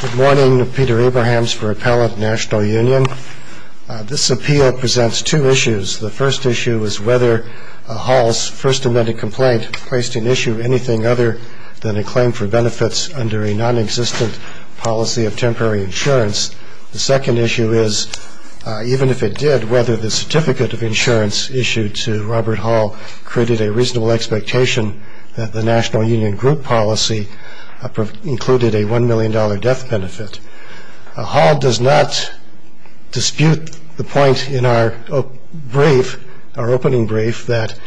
Good morning, Peter Abrahams for Appellate National Union. This appeal presents two issues. The first issue is whether Hall's first amended complaint placed in issue anything other than a claim for benefits under a non-existent policy of temporary insurance. The second issue is, even if it did, whether the certificate of insurance issued to Robert Hall created a reasonable expectation that the National Union Group policy included a $1 million death benefit. Hall does not dispute the point in our opening brief that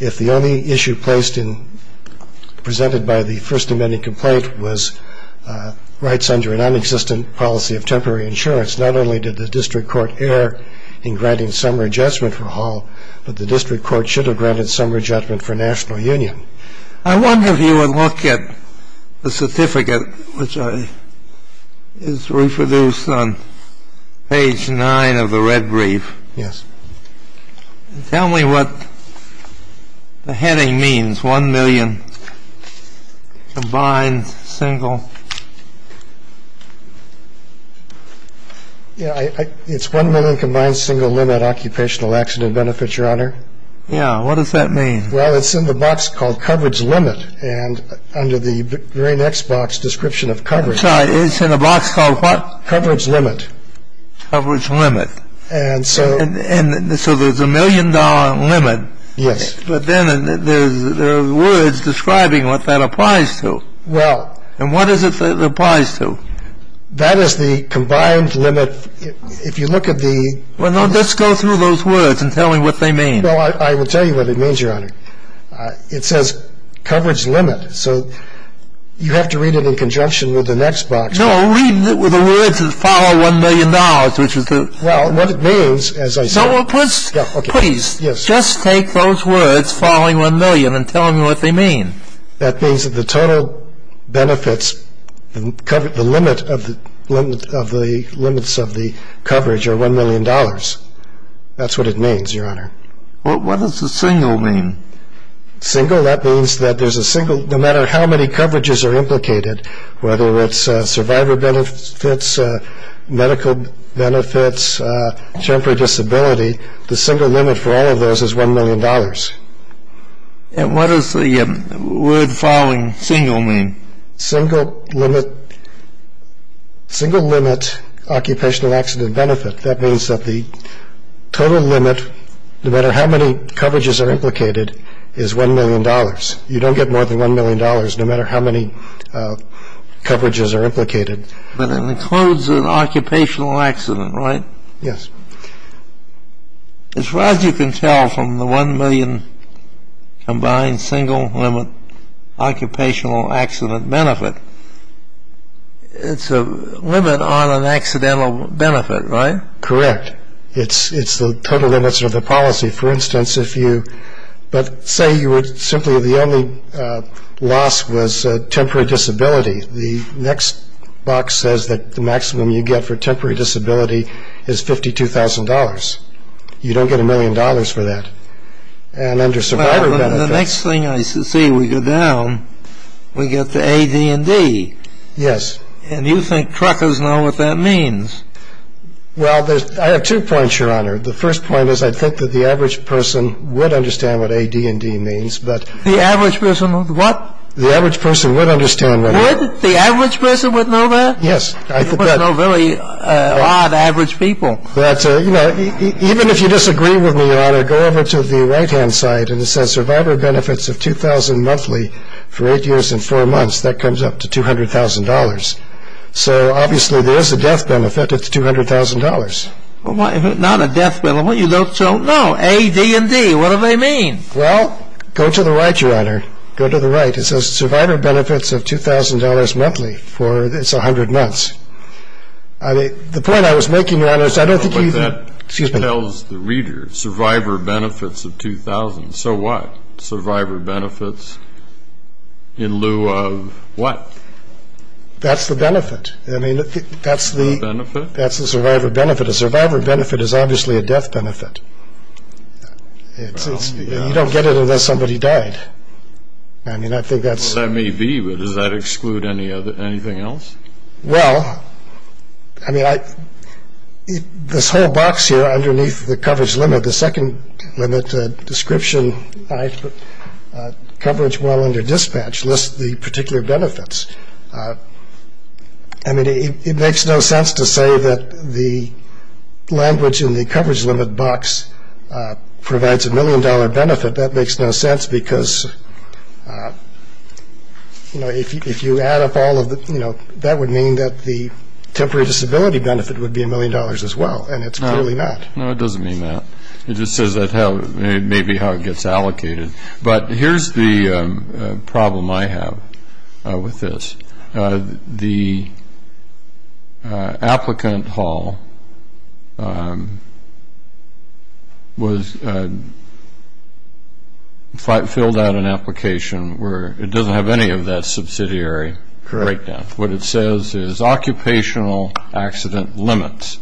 if the only issue presented by the first amended complaint was rights under a non-existent policy of temporary insurance, not only did the district court err in granting some readjustment for Hall, but the district court should have granted some readjustment for National Union. I wonder if you would look at the certificate, which is reproduced on page 9 of the red brief. Yes. Tell me what the heading means, $1 million combined, single. It's $1 million combined, single, limit occupational accident benefits, Your Honor. Yeah. What does that mean? Well, it's in the box called coverage limit, and under the very next box, description of coverage. It's in a box called what? Coverage limit. Coverage limit. And so there's a $1 million limit. Yes. But then there are words describing what that applies to. Well. And what is it that it applies to? That is the combined limit. If you look at the... Well, no, just go through those words and tell me what they mean. Well, I will tell you what it means, Your Honor. It says coverage limit, so you have to read it in conjunction with the next box. No, read it with the words that follow $1 million, which is the... Well, what it means, as I said... No, well, please. Yeah, okay. Please. Yes. Just take those words following $1 million and tell me what they mean. That means that the total benefits, the limit of the limits of the coverage are $1 million. That's what it means, Your Honor. Well, what does the single mean? Single, that means that there's a single, no matter how many coverages are implicated, whether it's survivor benefits, medical benefits, temporary disability, the single limit for all of those is $1 million. And what does the word following single mean? Single limit occupational accident benefit. That means that the total limit, no matter how many coverages are implicated, is $1 million. You don't get more than $1 million, no matter how many coverages are implicated. But it includes an occupational accident, right? Yes. As far as you can tell from the $1 million combined single limit occupational accident benefit, it's a limit on an accidental benefit, right? Correct. It's the total limits of the policy. For instance, if you... But say you were simply the only loss was temporary disability. The next box says that the maximum you get for temporary disability is $52,000. You don't get $1 million for that. And under survivor benefits... The next thing I see, we go down, we get the A, D, and D. Yes. And you think truckers know what that means. Well, I have two points, Your Honor. The first point is I think that the average person would understand what A, D, and D means, but... The average person would what? The average person would understand what A, D, and D means. The average person would know that? Yes. There's no really odd average people. But, you know, even if you disagree with me, Your Honor, go over to the right-hand side, and it says survivor benefits of $2,000 monthly for 8 years and 4 months, that comes up to $200,000. So, obviously, there is a death benefit at $200,000. Well, not a death benefit, you don't know. A, D, and D, what do they mean? Well, go to the right, Your Honor. Go to the right. It says survivor benefits of $2,000 monthly for 100 months. The point I was making, Your Honor, is I don't think you even... But that tells the reader, survivor benefits of $2,000. So what? Survivor benefits in lieu of what? That's the benefit. I mean, that's the... Benefit? That's the survivor benefit. A survivor benefit is obviously a death benefit. Well, yeah. You don't get it unless somebody died. I mean, I think that's... Well, that may be, but does that exclude anything else? Well, I mean, this whole box here underneath the coverage limit, the second limit description, coverage while under dispatch, lists the particular benefits. I mean, it makes no sense to say that the language in the coverage limit box provides a million-dollar benefit. That makes no sense because, you know, if you add up all of the... you know, that would mean that the temporary disability benefit would be a million dollars as well, and it's clearly not. No, it doesn't mean that. It just says that may be how it gets allocated. But here's the problem I have with this. The applicant hall filled out an application where it doesn't have any of that subsidiary breakdown. What it says is occupational accident limits,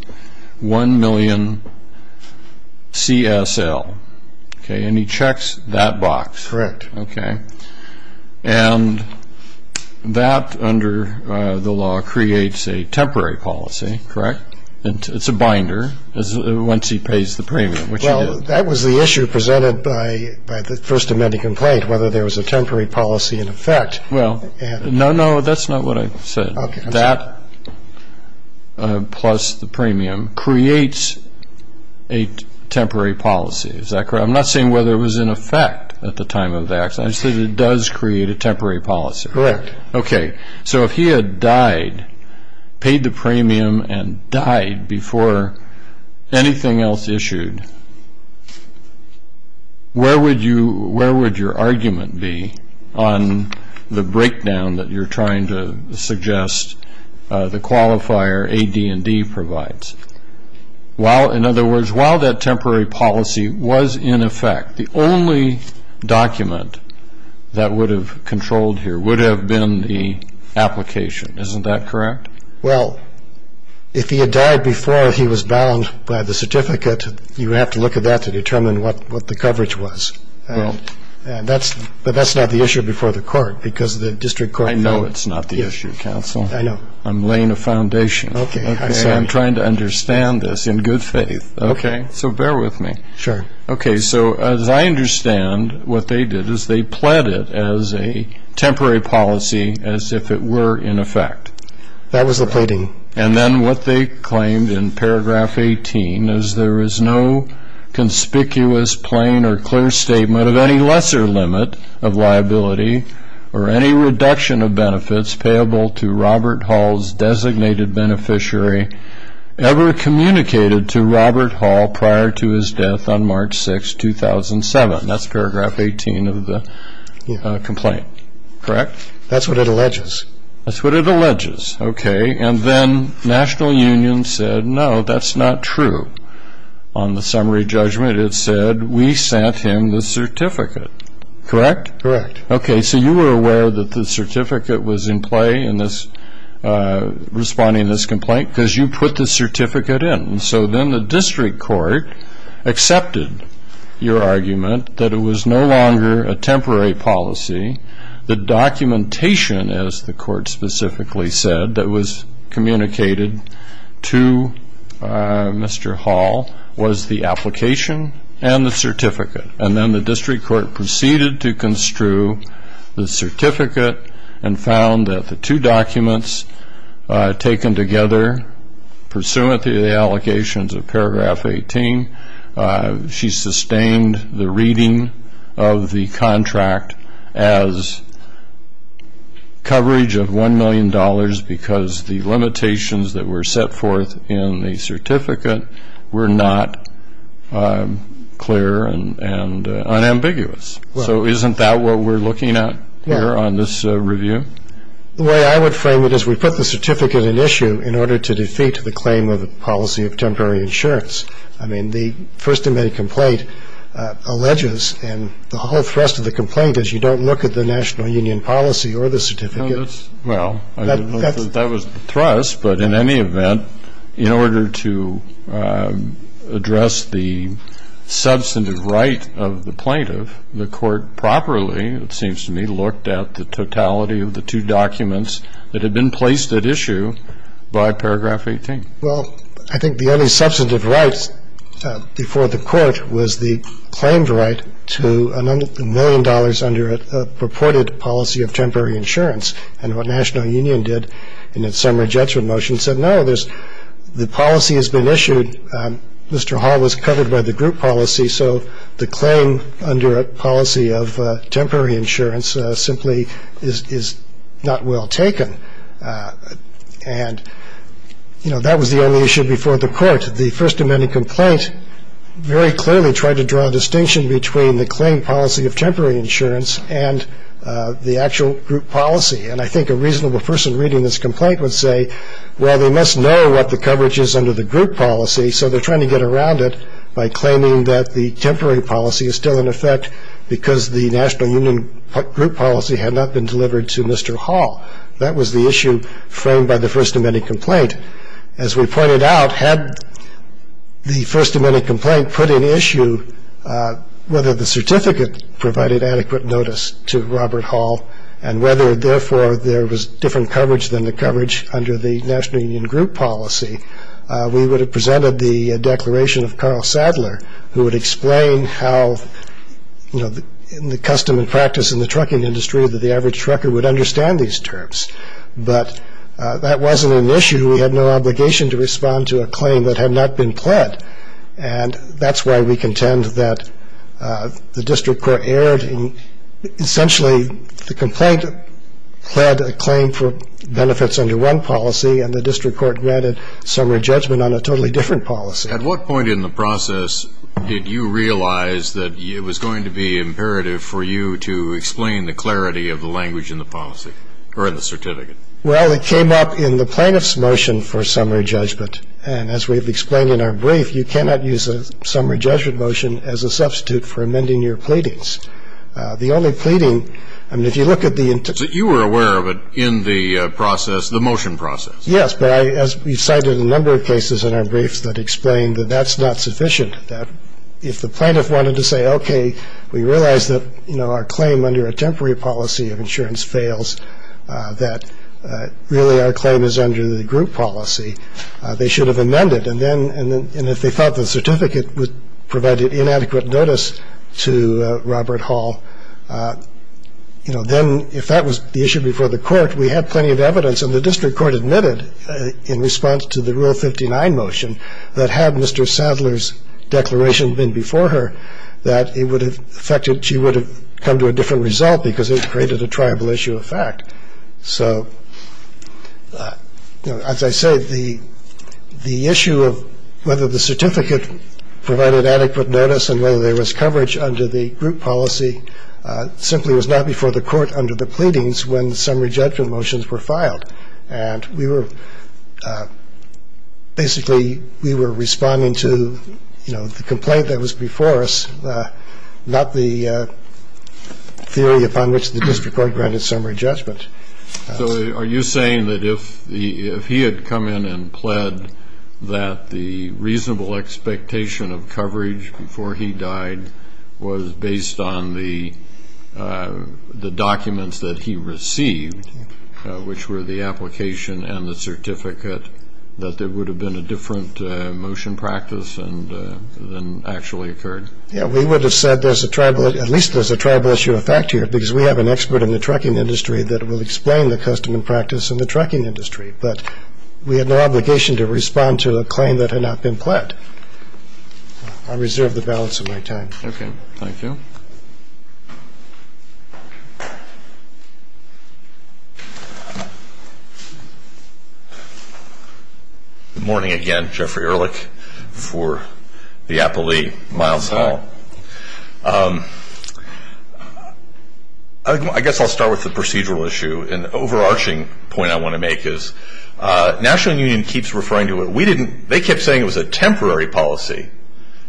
1 million CSL. Okay, and he checks that box. Correct. Okay. And that, under the law, creates a temporary policy, correct? It's a binder once he pays the premium, which he did. Well, that was the issue presented by the First Amendment complaint, whether there was a temporary policy in effect. Well, no, no, that's not what I said. Okay. That, plus the premium, creates a temporary policy. Is that correct? I'm not saying whether it was in effect at the time of the accident. I'm saying it does create a temporary policy. Correct. Okay. So if he had died, paid the premium and died before anything else issued, where would your argument be on the breakdown that you're trying to suggest the qualifier AD&D provides? In other words, while that temporary policy was in effect, the only document that would have controlled here would have been the application. Isn't that correct? Well, if he had died before he was bound by the certificate, you would have to look at that to determine what the coverage was. Well. But that's not the issue before the court because the district court. I know it's not the issue, counsel. I know. I'm laying a foundation. Okay. So I'm trying to understand this in good faith. Okay. So bear with me. Sure. Okay. So as I understand, what they did is they pled it as a temporary policy as if it were in effect. That was the pleading. And then what they claimed in paragraph 18 is there is no conspicuous, plain, or clear statement of any lesser limit of liability or any reduction of benefits payable to Robert Hall's designated beneficiary ever communicated to Robert Hall prior to his death on March 6, 2007. That's paragraph 18 of the complaint. Correct? That's what it alleges. That's what it alleges. Okay. And then National Union said, no, that's not true. On the summary judgment it said, we sent him the certificate. Correct? Correct. Okay. So you were aware that the certificate was in play in responding to this complaint because you put the certificate in. So then the district court accepted your argument that it was no longer a temporary policy. The documentation, as the court specifically said, that was communicated to Mr. Hall was the application and the certificate. And then the district court proceeded to construe the certificate and found that the two documents taken together pursuant to the allocations of paragraph 18, she sustained the reading of the contract as coverage of $1 million because the limitations that were set forth in the certificate were not clear and unambiguous. So isn't that what we're looking at here on this review? The way I would frame it is we put the certificate in issue in order to defeat the claim of the policy of temporary insurance. I mean, the First Amendment complaint alleges, and the whole thrust of the complaint is you don't look at the national union policy or the certificate. Well, that was the thrust. But in any event, in order to address the substantive right of the plaintiff, the court properly, it seems to me, looked at the totality of the two documents that had been placed at issue by paragraph 18. Well, I think the only substantive right before the court was the claimed right to $1 million under a purported policy of temporary insurance. And what national union did in its summary judgment motion said, no, the policy has been issued. Mr. Hall was covered by the group policy, so the claim under a policy of temporary insurance simply is not well taken. And, you know, that was the only issue before the court. The First Amendment complaint very clearly tried to draw a distinction between the claimed policy of temporary insurance and the actual group policy. And I think a reasonable person reading this complaint would say, well, they must know what the coverage is under the group policy, so they're trying to get around it by claiming that the temporary policy is still in effect because the national union group policy had not been delivered to Mr. Hall. That was the issue framed by the First Amendment complaint. As we pointed out, had the First Amendment complaint put in issue whether the certificate provided adequate notice to Robert Hall and whether, therefore, there was different coverage than the coverage under the national union group policy, we would have presented the declaration of Carl Sadler, who would explain how, you know, in the custom and practice in the trucking industry, that the average trucker would understand these terms. But that wasn't an issue. We had no obligation to respond to a claim that had not been pled. And that's why we contend that the district court erred. Essentially, the complaint pled a claim for benefits under one policy, and the district court granted summary judgment on a totally different policy. At what point in the process did you realize that it was going to be imperative for you to explain the clarity of the language in the policy or in the certificate? Well, it came up in the plaintiff's motion for summary judgment. And as we've explained in our brief, you cannot use a summary judgment motion as a substitute for amending your pleadings. The only pleading, I mean, if you look at the inter- So you were aware of it in the process, the motion process? Yes, but as we've cited a number of cases in our briefs that explain that that's not sufficient, that if the plaintiff wanted to say, okay, we realize that our claim under a temporary policy of insurance fails, that really our claim is under the group policy, they should have amended. And if they thought the certificate provided inadequate notice to Robert Hall, then if that was the issue before the court, we had plenty of evidence, and the district court admitted in response to the Rule 59 motion that had Mr. Sadler's declaration been before her, that it would have affected, she would have come to a different result because it created a triable issue of fact. So as I say, the issue of whether the certificate provided adequate notice and whether there was coverage under the group policy simply was not before the court under the pleadings when summary judgment motions were filed. And we were basically responding to the complaint that was before us, not the theory upon which the district court granted summary judgment. So are you saying that if he had come in and pled that the reasonable expectation of coverage before he died was based on the documents that he received, which were the application and the certificate, that there would have been a different motion practice than actually occurred? Yeah, we would have said at least there's a triable issue of fact here because we have an expert in the trucking industry that will explain the custom and practice in the trucking industry. But we had no obligation to respond to a claim that had not been pled. I reserve the balance of my time. Okay, thank you. Good morning again. Jeffrey Ehrlich for the Applee, Miles Hall. Hi. I guess I'll start with the procedural issue. An overarching point I want to make is National Union keeps referring to it. We didn't they kept saying it was a temporary policy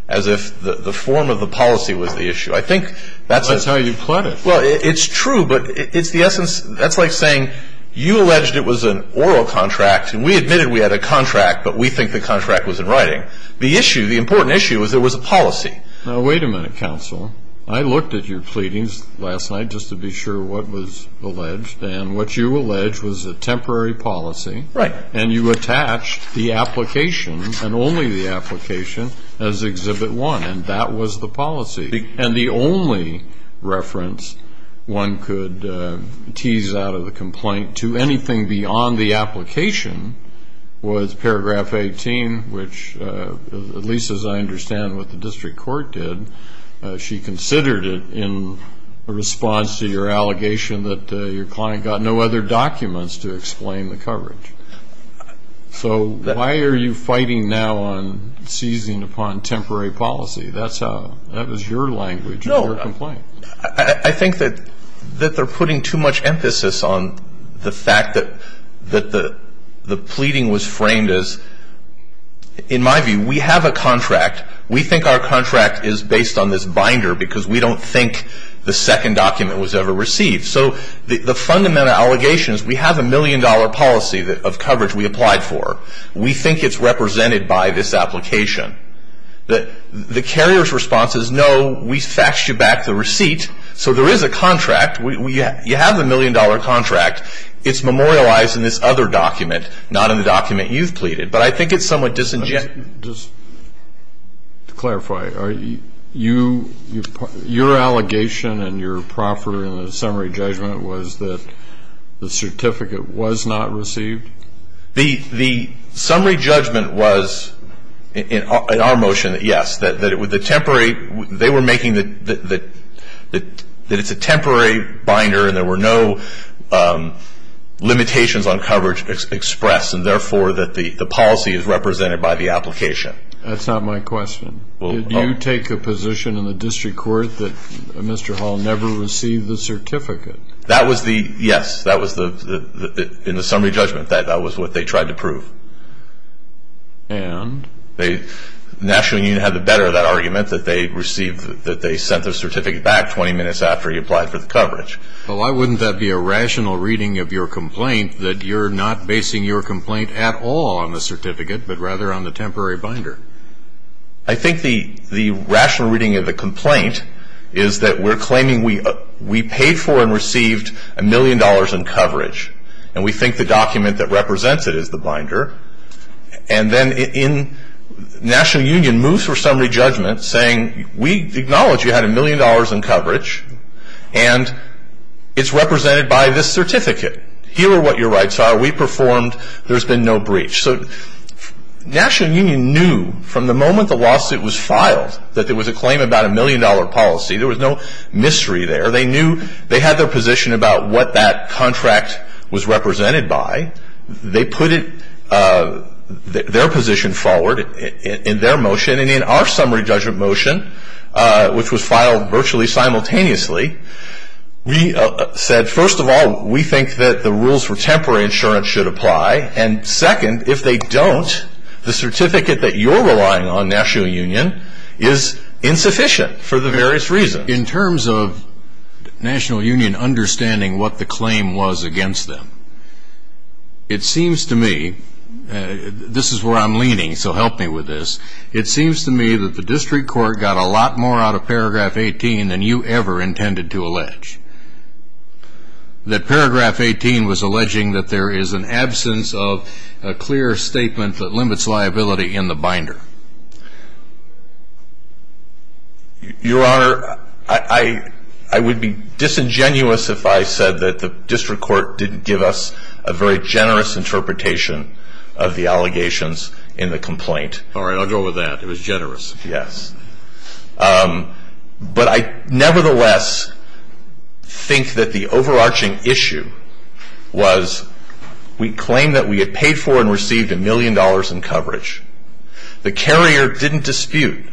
as if the form of the policy was the issue. I think that's how you pled it. Well, it's true, but it's the essence. That's like saying you alleged it was an oral contract, and we admitted we had a contract, but we think the contract was in writing. The issue, the important issue was there was a policy. Now, wait a minute, counsel. I looked at your pleadings last night just to be sure what was alleged, and what you alleged was a temporary policy. Right. And you attached the application and only the application as Exhibit 1, and that was the policy. And the only reference one could tease out of the complaint to anything beyond the application was Paragraph 18, which at least as I understand what the district court did, she considered it in response to your allegation that your client got no other documents to explain the coverage. So why are you fighting now on seizing upon temporary policy? That was your language in your complaint. I think that they're putting too much emphasis on the fact that the pleading was framed as, in my view, we have a contract. We think our contract is based on this binder because we don't think the second document was ever received. So the fundamental allegation is we have a million-dollar policy of coverage we applied for. We think it's represented by this application. The carrier's response is, no, we faxed you back the receipt. So there is a contract. You have the million-dollar contract. It's memorialized in this other document, not in the document you've pleaded. But I think it's somewhat disingenuous. Just to clarify, your allegation and your proffer in the summary judgment was that the certificate was not received? The summary judgment was, in our motion, yes, that it was a temporary. They were making that it's a temporary binder and there were no limitations on coverage expressed, and therefore that the policy is represented by the application. That's not my question. Did you take a position in the district court that Mr. Hall never received the certificate? Yes. In the summary judgment, that was what they tried to prove. And? The National Union had the better of that argument that they sent the certificate back 20 minutes after he applied for the coverage. Well, why wouldn't that be a rational reading of your complaint, that you're not basing your complaint at all on the certificate but rather on the temporary binder? I think the rational reading of the complaint is that we're claiming we paid for and received a million dollars in coverage. And we think the document that represents it is the binder. And then National Union moves for summary judgment saying, we acknowledge you had a million dollars in coverage. And it's represented by this certificate. Here are what your rights are. We performed. There's been no breach. So National Union knew from the moment the lawsuit was filed that there was a claim about a million-dollar policy. There was no mystery there. They knew they had their position about what that contract was represented by. They put their position forward in their motion. And in our summary judgment motion, which was filed virtually simultaneously, we said, first of all, we think that the rules for temporary insurance should apply. And second, if they don't, the certificate that you're relying on, National Union, is insufficient for the various reasons. In terms of National Union understanding what the claim was against them, it seems to me, this is where I'm leaning, so help me with this, it seems to me that the district court got a lot more out of paragraph 18 than you ever intended to allege. That paragraph 18 was alleging that there is an absence of a clear statement that limits liability in the binder. Your Honor, I would be disingenuous if I said that the district court didn't give us a very generous interpretation of the allegations in the complaint. All right. I'll go with that. It was generous. Yes. But I nevertheless think that the overarching issue was we claimed that we had paid for and received a million dollars in coverage. The carrier didn't dispute.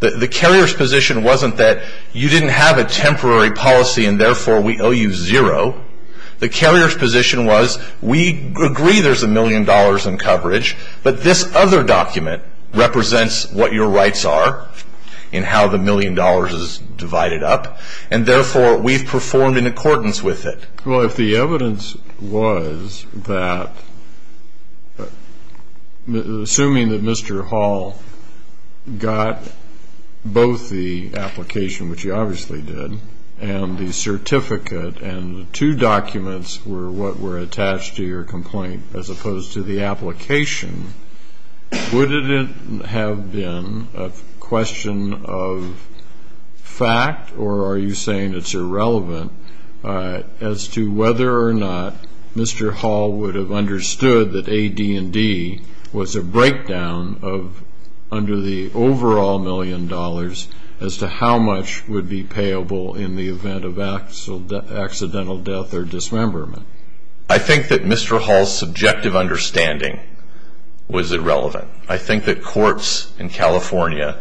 The carrier's position wasn't that you didn't have a temporary policy and therefore we owe you zero. The carrier's position was we agree there's a million dollars in coverage, but this other document represents what your rights are and how the million dollars is divided up, and therefore we've performed in accordance with it. Well, if the evidence was that assuming that Mr. Hall got both the application, which he obviously did, and the certificate and the two documents were what were attached to your complaint as opposed to the application, would it have been a question of fact or are you saying it's irrelevant as to whether or not Mr. Hall would have understood that AD&D was a breakdown under the overall million dollars as to how much would be payable in the event of accidental death or dismemberment? I think that Mr. Hall's subjective understanding was irrelevant. I think that courts in California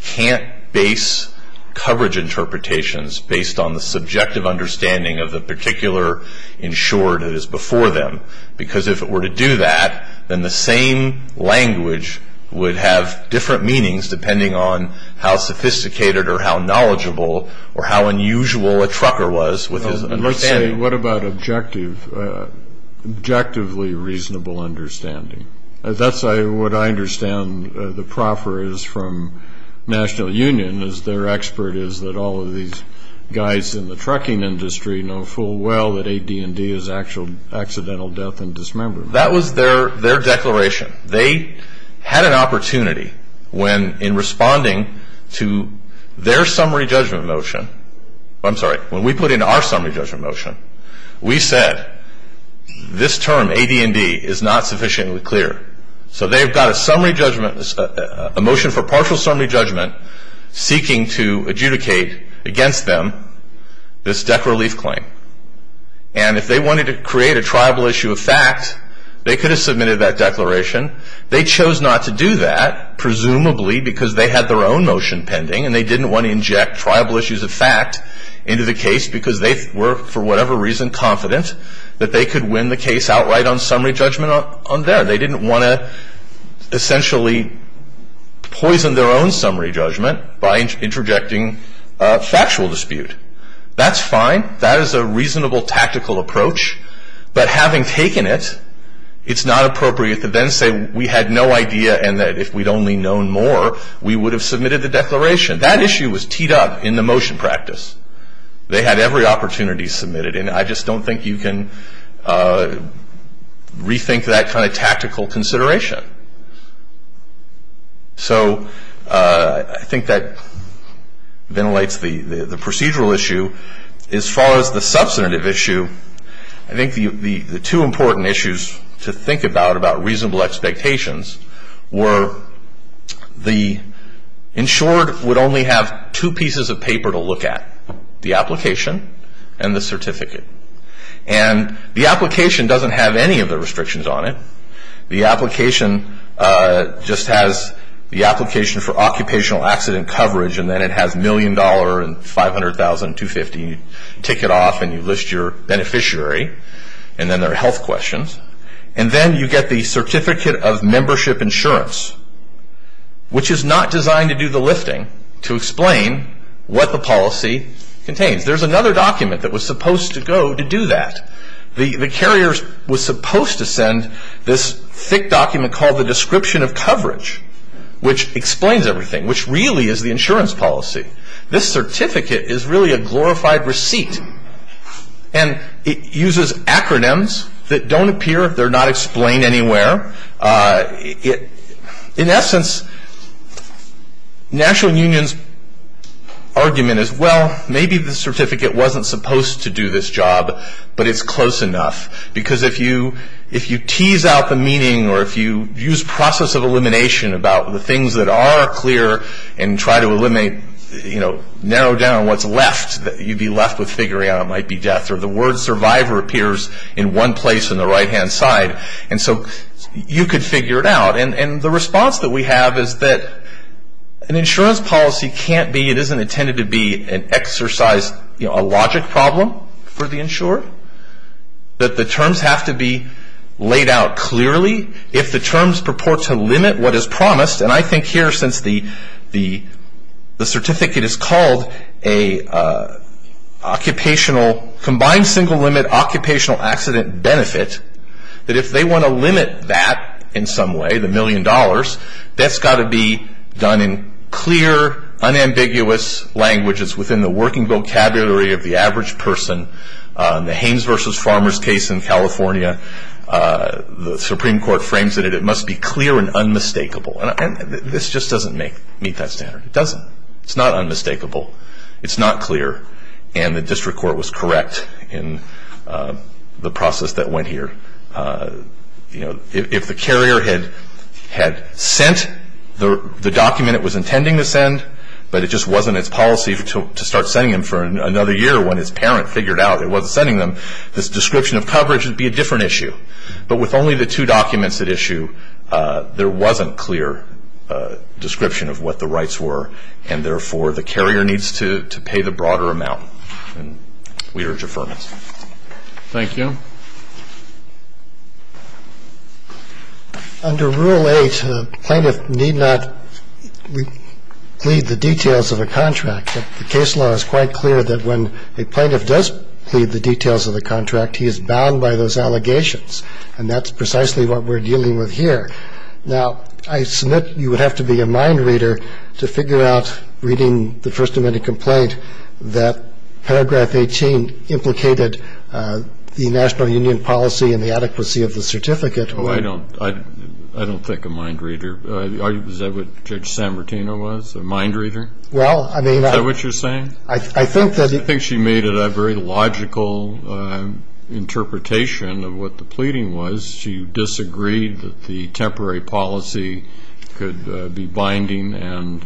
can't base coverage interpretations based on the subjective understanding of the particular insured that is before them because if it were to do that, then the same language would have different meanings depending on how sophisticated or how knowledgeable or how unusual a trucker was with his understanding. What about objectively reasonable understanding? That's what I understand the proffer is from National Union is their expert is that all of these guys in the trucking industry know full well that AD&D is actual accidental death and dismemberment. That was their declaration. They had an opportunity when in responding to their summary judgment motion, I'm sorry, when we put in our summary judgment motion, we said this term AD&D is not sufficiently clear. So they've got a motion for partial summary judgment seeking to adjudicate against them this death relief claim. And if they wanted to create a triable issue of fact, they could have submitted that declaration. They chose not to do that presumably because they had their own motion pending and they didn't want to inject triable issues of fact into the case because they were, for whatever reason, confident that they could win the case outright on summary judgment on there. They didn't want to essentially poison their own summary judgment by interjecting factual dispute. That's fine. That is a reasonable tactical approach. But having taken it, it's not appropriate to then say we had no idea and that if we'd only known more, we would have submitted the declaration. That issue was teed up in the motion practice. They had every opportunity submitted, and I just don't think you can rethink that kind of tactical consideration. So I think that ventilates the procedural issue. As far as the substantive issue, I think the two important issues to think about about reasonable expectations were the insured would only have two pieces of paper to look at, the application and the certificate. And the application doesn't have any of the restrictions on it. The application just has the application for occupational accident coverage and then it has $1,000,000 and $500,000 and $250,000. You take it off and you list your beneficiary, and then there are health questions. And then you get the certificate of membership insurance, which is not designed to do the lifting to explain what the policy contains. There's another document that was supposed to go to do that. The carrier was supposed to send this thick document called the description of coverage, which explains everything, which really is the insurance policy. This certificate is really a glorified receipt, and it uses acronyms that don't appear. They're not explained anywhere. In essence, National Union's argument is, well, maybe the certificate wasn't supposed to do this job, but it's close enough. Because if you tease out the meaning or if you use process of elimination about the things that are clear and try to narrow down what's left, you'd be left with figuring out it might be death, or the word survivor appears in one place on the right-hand side. And so you could figure it out. And the response that we have is that an insurance policy can't be, it isn't intended to be an exercise, a logic problem for the insurer, that the terms have to be laid out clearly. If the terms purport to limit what is promised, and I think here since the certificate is called a occupational, combined single limit occupational accident benefit, that if they want to limit that in some way, the million dollars, that's got to be done in clear, unambiguous languages within the working vocabulary of the average person. In the Hames versus Farmers case in California, the Supreme Court frames it as it must be clear and unmistakable. And this just doesn't meet that standard. It doesn't. It's not unmistakable. It's not clear. And the district court was correct in the process that went here. If the carrier had sent the document it was intending to send, but it just wasn't its policy to start sending them for another year when its parent figured out it wasn't sending them, this description of coverage would be a different issue. But with only the two documents at issue, there wasn't clear description of what the rights were, and therefore the carrier needs to pay the broader amount. We urge affirmation. Thank you. Under Rule 8, a plaintiff need not plead the details of a contract. The case law is quite clear that when a plaintiff does plead the details of a contract, he is bound by those allegations, and that's precisely what we're dealing with here. Now, I submit you would have to be a mind reader to figure out, reading the First Amendment complaint, that Paragraph 18 implicated the national union policy and the adequacy of the certificate. Oh, I don't think a mind reader. Is that what Judge Sanmartino was, a mind reader? Well, I mean. Is that what you're saying? I think that. I think she made it a very logical interpretation of what the pleading was. She disagreed that the temporary policy could be binding, and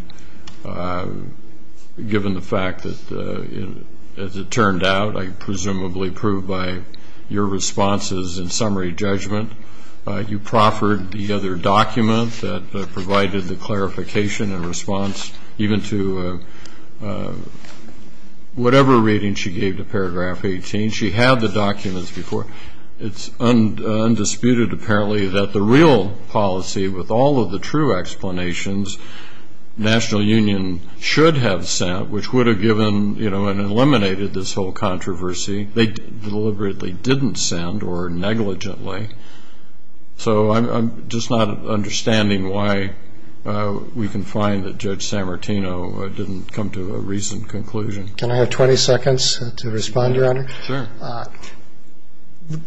given the fact that, as it turned out, I presumably proved by your responses in summary judgment, you proffered the other document that provided the clarification and response, even to whatever reading she gave to Paragraph 18. She had the documents before. It's undisputed, apparently, that the real policy, with all of the true explanations, national union should have sent, which would have given and eliminated this whole controversy. They deliberately didn't send or negligently. So I'm just not understanding why we can find that Judge Sanmartino didn't come to a recent conclusion. Can I have 20 seconds to respond, Your Honor? Sure.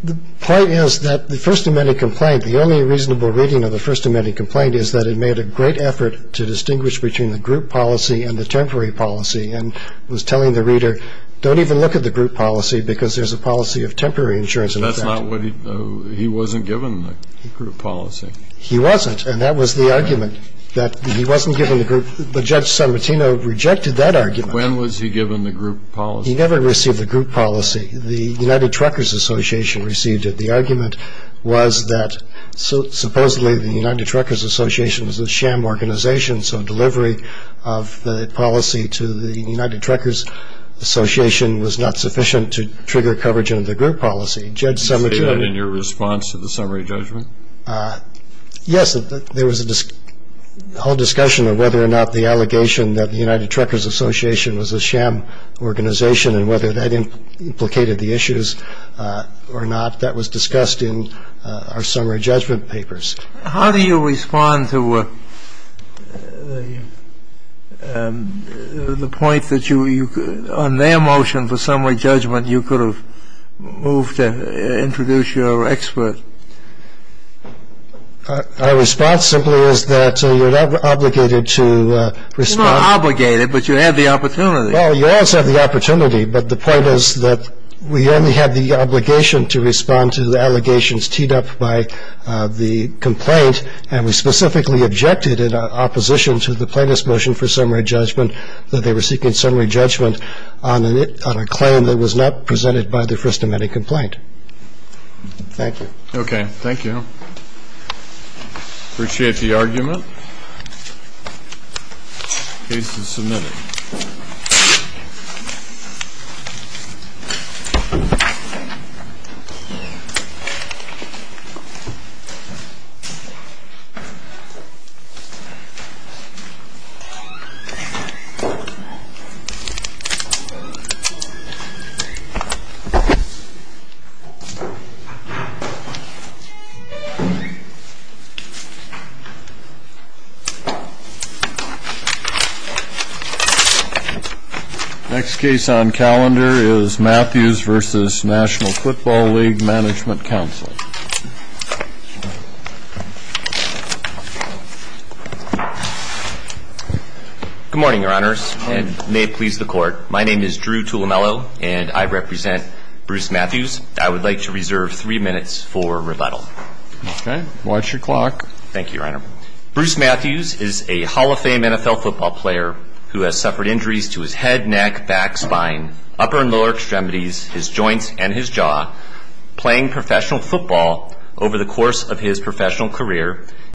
The point is that the First Amendment complaint, the only reasonable reading of the First Amendment complaint is that it made a great effort to distinguish between the group policy and the temporary policy, and was telling the reader, don't even look at the group policy, because there's a policy of temporary insurance in effect. But that's not what he, he wasn't given the group policy. He wasn't, and that was the argument, that he wasn't given the group. But Judge Sanmartino rejected that argument. When was he given the group policy? He never received the group policy. The United Truckers Association received it. The argument was that supposedly the United Truckers Association was a sham organization, so delivery of the policy to the United Truckers Association was not sufficient to trigger coverage under the group policy. Did you say that in your response to the summary judgment? Yes, there was a whole discussion of whether or not the allegation that the United Truckers Association was a sham organization and whether that implicated the issues or not. That was discussed in our summary judgment papers. How do you respond to the point that you, on their motion for summary judgment, you could have moved to introduce your expert? Our response simply is that you're not obligated to respond. You're not obligated, but you have the opportunity. Well, you also have the opportunity, but the point is that we only had the obligation to respond to the allegations teed up by the complaint, and we specifically objected in opposition to the plaintiff's motion for summary judgment that they were seeking summary judgment on a claim that was not presented by the first amending complaint. Thank you. Okay. Thank you. Appreciate the argument. Case is submitted. Next case on calendar is Matthews v. National Football League Management Council. Good morning, Your Honors, and may it please the Court. My name is Drew Tulemelo, and I represent Bruce Matthews. I would like to reserve three minutes for questions. Okay. Watch your clock.